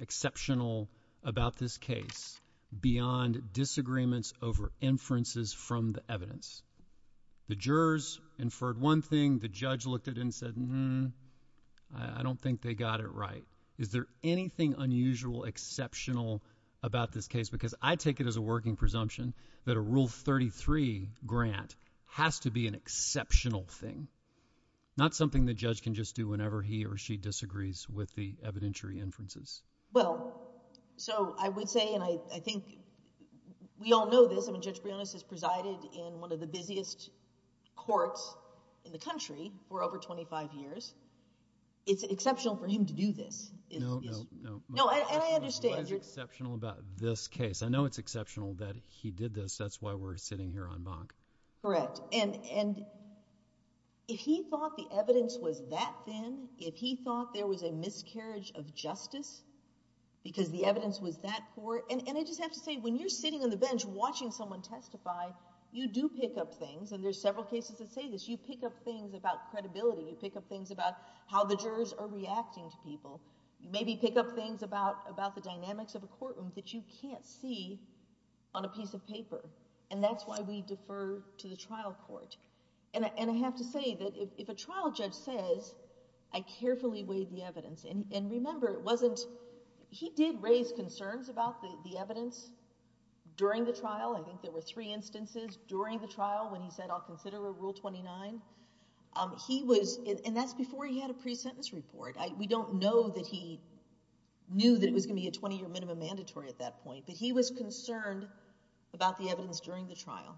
exceptional about this case beyond disagreements over inferences from the evidence? The jurors inferred one thing, the judge looked at it and said, hmm, I don't think they got it right. Is there anything unusual, exceptional about this case? Because I take it as a working presumption that a Rule 33 grant has to be an exceptional thing. Not something the judge can just do whenever he or she disagrees with the evidentiary inferences. Well, so I would say, and I think we all know this, I mean, Judge Briones has presided in one of the busiest courts in the country for over 25 years. It's exceptional for him to do this. No, no, no. No, and I understand. What is exceptional about this case? I know it's exceptional that he did this. That's why we're sitting here on bonk. Correct, and if he thought the evidence was that thin, if he thought there was a miscarriage of justice, because the evidence was that poor, and I just have to say, when you're sitting on the bench watching someone testify, you do pick up things, and there's several cases that say this, you pick up things about credibility, you pick up things about how the jurors are reacting to people. You maybe pick up things about the dynamics of a courtroom that you can't see on a piece of paper. And that's why we defer to the trial court, and I have to say that if a trial judge says, I carefully weighed the evidence, and remember, it wasn't, he did raise concerns about the evidence during the trial. I think there were three instances during the trial when he said, I'll consider a Rule 29. He was, and that's before he had a pre-sentence report. We don't know that he knew that it was going to be a 20-year minimum mandatory at that point, but he was concerned about the evidence during the trial.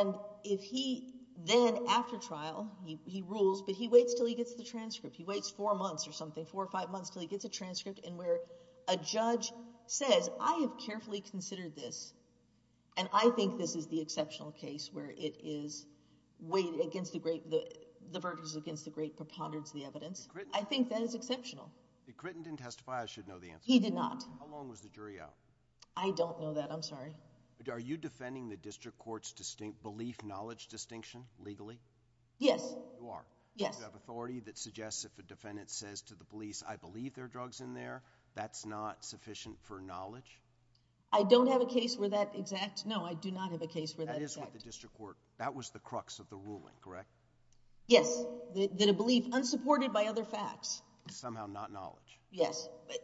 And if he then, after trial, he rules, but he waits until he gets the transcript. He waits four months or something, four or five months, until he gets a transcript, and where a judge says, I have carefully considered this, and I think this is the exceptional case, where it is weighed against the great, the verdict is against the great preponderance of the evidence. I think that is exceptional. If Critton didn't testify, I should know the answer. He did not. How long was the jury out? I don't know that. I'm sorry. Are you defending the district court's distinct belief, knowledge distinction legally? Yes. You are? Yes. You have authority that suggests if a defendant says to the police, I believe there are drugs in there, that's not sufficient for knowledge? I don't have a case where that's exact. No, I do not have a case where that's exact. That is what the district court, that was the crux of the ruling, correct? Yes. That a belief unsupported by other facts. Somehow not knowledge. Yes. But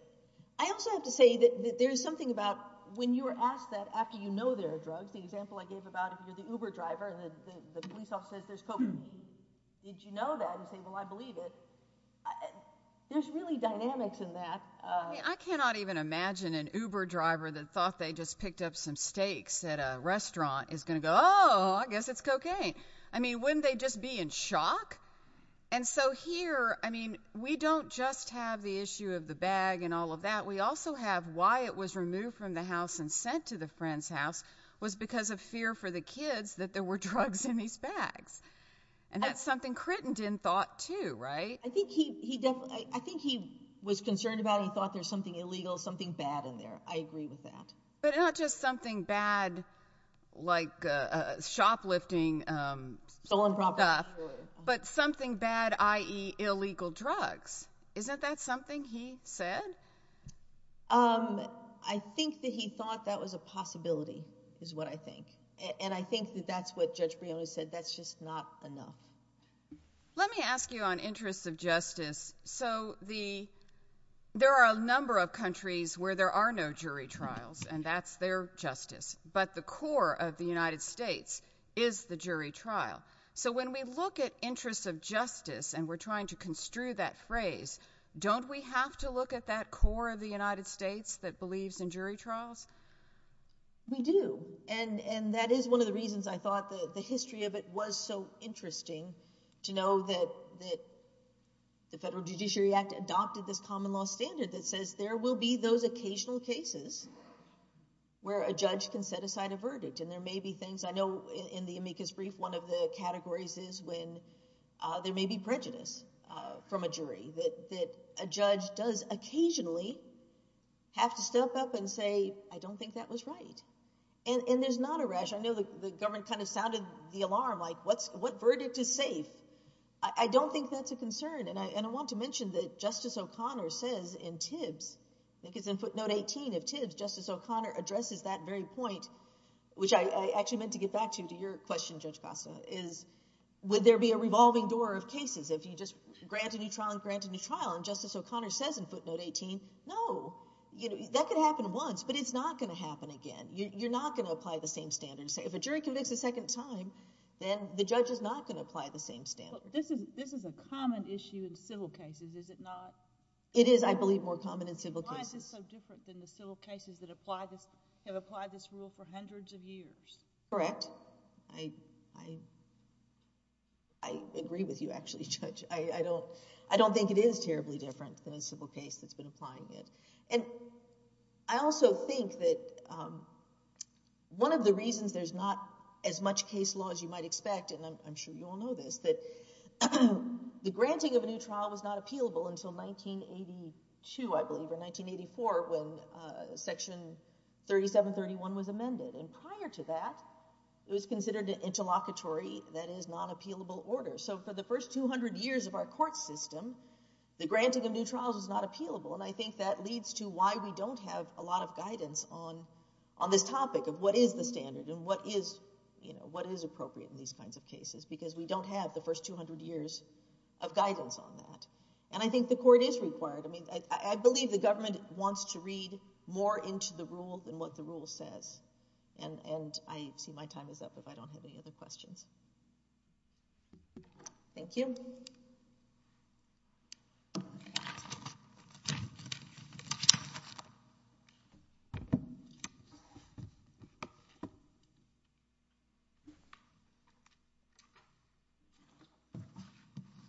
I also have to say that there's something about when you were asked that after you know there are drugs, the example I gave about if you're the Uber driver, and the police officer says there's cocaine, did you know that? And say, well, I believe it. There's really dynamics in that. I cannot even imagine an Uber driver that thought they just picked up some steaks at a restaurant is going to go, oh, I guess it's cocaine. I mean, wouldn't they just be in shock? And so here, I mean, we don't just have the issue of the bag and all of that. We also have why it was removed from the house and sent to the friend's house was because of fear for the kids that there were drugs in these bags. And that's something Crittenden thought too, right? I think he definitely, I think he was concerned about it. He thought there's something illegal, something bad in there. I agree with that. But not just something bad like shoplifting. Stolen property. But something bad, i.e. illegal drugs. Isn't that something he said? I think that he thought that was a possibility is what I think. And I think that that's what Judge Brione said. That's just not enough. Let me ask you on interests of justice. So there are a number of countries where there are no jury trials, and that's their justice. But the core of the United States is the jury trial. So when we look at interests of justice, and we're trying to construe that phrase, don't we have to look at that core of the United States that believes in jury trials? We do. And that is one of the reasons I thought the history of it was so interesting to know that the Federal Judiciary Act adopted this common law standard that says there will be those and there may be things. I know in the amicus brief, one of the categories is when there may be prejudice from a jury, that a judge does occasionally have to step up and say, I don't think that was right. And there's not a rash. I know the government kind of sounded the alarm, like what verdict is safe? I don't think that's a concern. And I want to mention that Justice O'Connor says in Tibbs, I think it's in footnote 18 of Tibbs, Justice O'Connor addresses that very point, which I actually meant to get back to your question, Judge Costa, is would there be a revolving door of cases if you just grant a new trial and grant a new trial? And Justice O'Connor says in footnote 18, no. That could happen once, but it's not going to happen again. You're not going to apply the same standards. If a jury convicts a second time, then the judge is not going to apply the same standard. But this is a common issue in civil cases, is it not? It is, I believe, more common in civil cases. It's so different than the civil cases that have applied this rule for hundreds of years. Correct. I agree with you, actually, Judge. I don't think it is terribly different than a civil case that's been applying it. And I also think that one of the reasons there's not as much case law as you might expect, and I'm sure you all know this, that the granting of a new trial was not appealable until 1982, I believe, or 1984 when Section 3731 was amended. And prior to that, it was considered an interlocutory, that is, non-appealable order. So for the first 200 years of our court system, the granting of new trials is not appealable. And I think that leads to why we don't have a lot of guidance on this topic of what is the standard and what is appropriate in these kinds of cases, because we don't have the first 200 years of guidance on that. And I think the court is required. I believe the government wants to read more into the rule than what the rule says. And I see my time is up if I don't have any other questions. Thank you.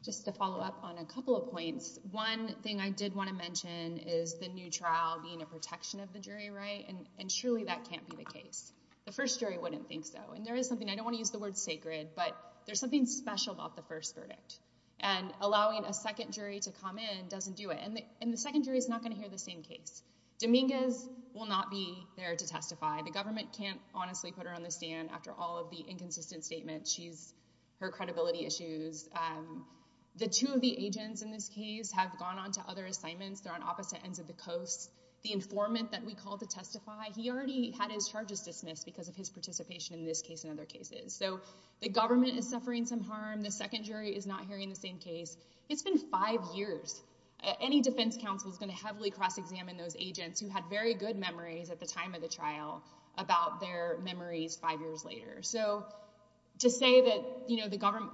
Just to follow up on a couple of points. One thing I did want to mention is the new trial being a protection of the jury, right? And surely that can't be the case. The first jury wouldn't think so. And there is something, I don't want to use the word sacred, but there's something special about the first verdict. And allowing a second jury to come in doesn't do it. And the second jury is not going to hear the same case. Dominguez will not be there to testify. The government can't honestly put her on the stand after all of the inconsistent statements. She's, her credibility issues. The two of the agents in this case have gone on to other assignments. They're on opposite ends of the coast. The informant that we called to testify, he already had his charges dismissed because of his participation in this case and other cases. So the government is suffering some harm. The second jury is not hearing the same case. It's been five years. Any defense counsel is going to heavily cross-examine those agents who had very good memories at the time of the trial about their memories five years later. So to say that, you know, the government,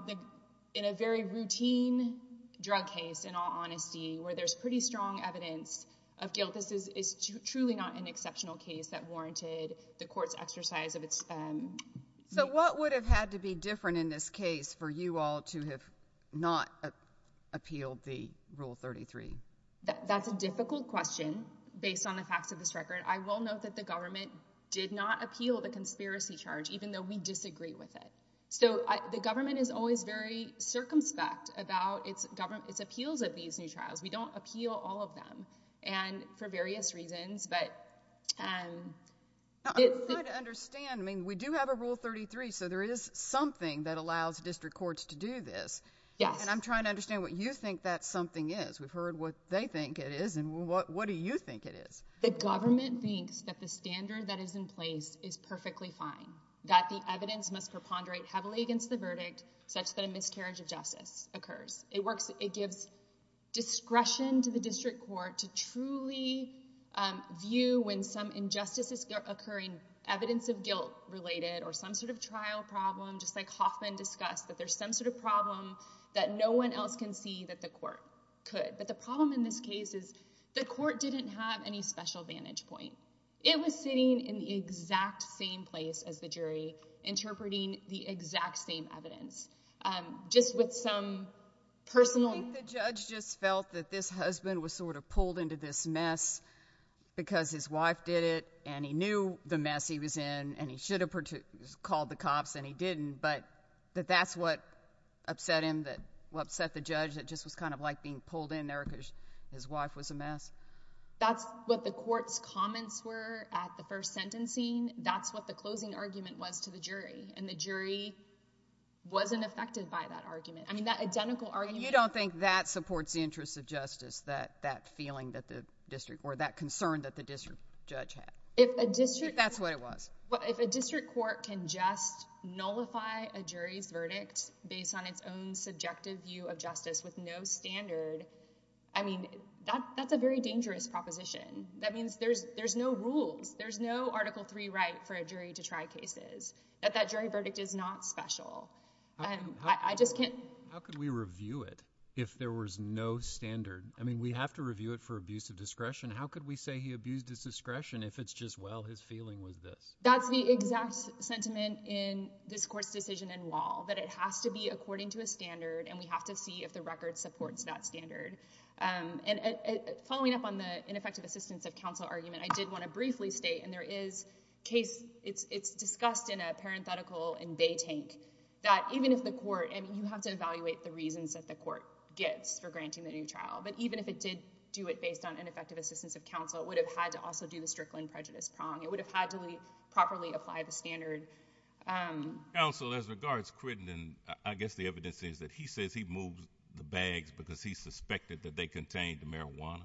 in a very routine drug case, in all honesty, where there's pretty strong evidence of guilt, this is truly not an exceptional case that warranted the court's exercise of its— So what would have had to be different in this case for you all to have not appealed the Rule 33? That's a difficult question based on the facts of this record. I will note that the government did not appeal the conspiracy charge, even though we disagree with it. So the government is always very circumspect about its appeals at these new trials. We don't appeal all of them, and for various reasons, but— I'm trying to understand. I mean, we do have a Rule 33, so there is something that allows district courts to do this. Yes. And I'm trying to understand what you think that something is. We've heard what they think it is, and what do you think it is? The government thinks that the standard that is in place is perfectly fine, that the evidence must preponderate heavily against the verdict such that a miscarriage of justice occurs. It works—it gives discretion to the district court to truly view when some injustice is occurring, evidence of guilt-related or some sort of trial problem, just like Hoffman discussed, that there's some sort of problem that no one else can see that the court could. But the problem in this case is the court didn't have any special vantage point. It was sitting in the exact same place as the jury, interpreting the exact same evidence, just with some personal— I think the judge just felt that this husband was sort of pulled into this mess because his wife did it, and he knew the mess he was in, and he should have called the cops, and he didn't, but that that's what upset him, that—what upset the judge, that just was kind of like being pulled in there because his wife was a mess? That's what the court's comments were at the first sentencing. That's what the closing argument was to the jury, and the jury wasn't affected by that argument. I mean, that identical argument— You don't think that supports the interests of justice, that feeling that the district or that concern that the district judge had? If a district— That's what it was. If a district court can just nullify a jury's verdict based on its own subjective view of standard, I mean, that's a very dangerous proposition. That means there's no rules. There's no Article III right for a jury to try cases, that that jury verdict is not special. I just can't— How could we review it if there was no standard? I mean, we have to review it for abuse of discretion. How could we say he abused his discretion if it's just, well, his feeling was this? That's the exact sentiment in this court's decision in Wall, that it has to be according to a standard, and we have to see if the record supports that standard. Following up on the ineffective assistance of counsel argument, I did want to briefly state, and there is case— It's discussed in a parenthetical in Bay Tank, that even if the court— I mean, you have to evaluate the reasons that the court gets for granting the new trial, but even if it did do it based on ineffective assistance of counsel, it would have had to also do the Strickland prejudice prong. It would have had to properly apply the standard. Counsel, as regards Crittenden, I guess the evidence is that he says he moved the bags because he suspected that they contained the marijuana.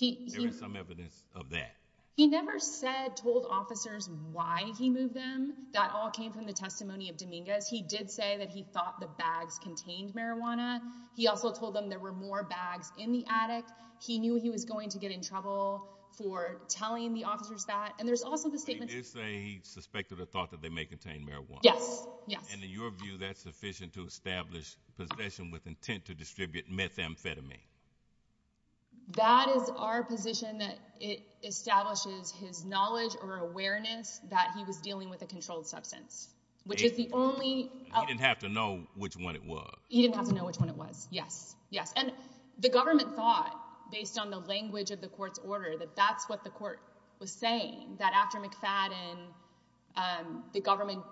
There is some evidence of that. He never said, told officers why he moved them. That all came from the testimony of Dominguez. He did say that he thought the bags contained marijuana. He also told them there were more bags in the attic. He knew he was going to get in trouble for telling the officers that. And there's also the statement— Yes, yes. And in your view, that's sufficient to establish possession with intent to distribute methamphetamine. That is our position that it establishes his knowledge or awareness that he was dealing with a controlled substance, which is the only— He didn't have to know which one it was. He didn't have to know which one it was. Yes, yes. And the government thought, based on the language of the court's order, that that's what the court was saying, that after McFadden, the government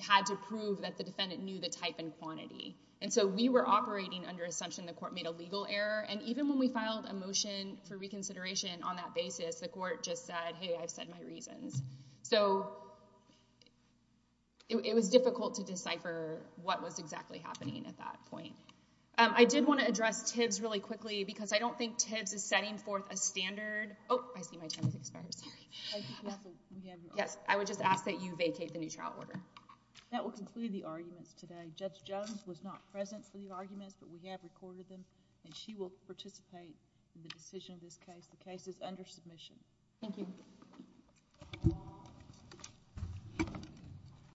had to prove that the defendant knew the type and quantity. And so we were operating under the assumption the court made a legal error. And even when we filed a motion for reconsideration on that basis, the court just said, hey, I've said my reasons. So it was difficult to decipher what was exactly happening at that point. I did want to address Tibbs really quickly because I don't think Tibbs is setting forth a standard— I see my time has expired. Yes, I would just ask that you vacate the new trial order. That will conclude the arguments today. Judge Jones was not present for the arguments, but we have recorded them. And she will participate in the decision of this case. The case is under submission. Thank you.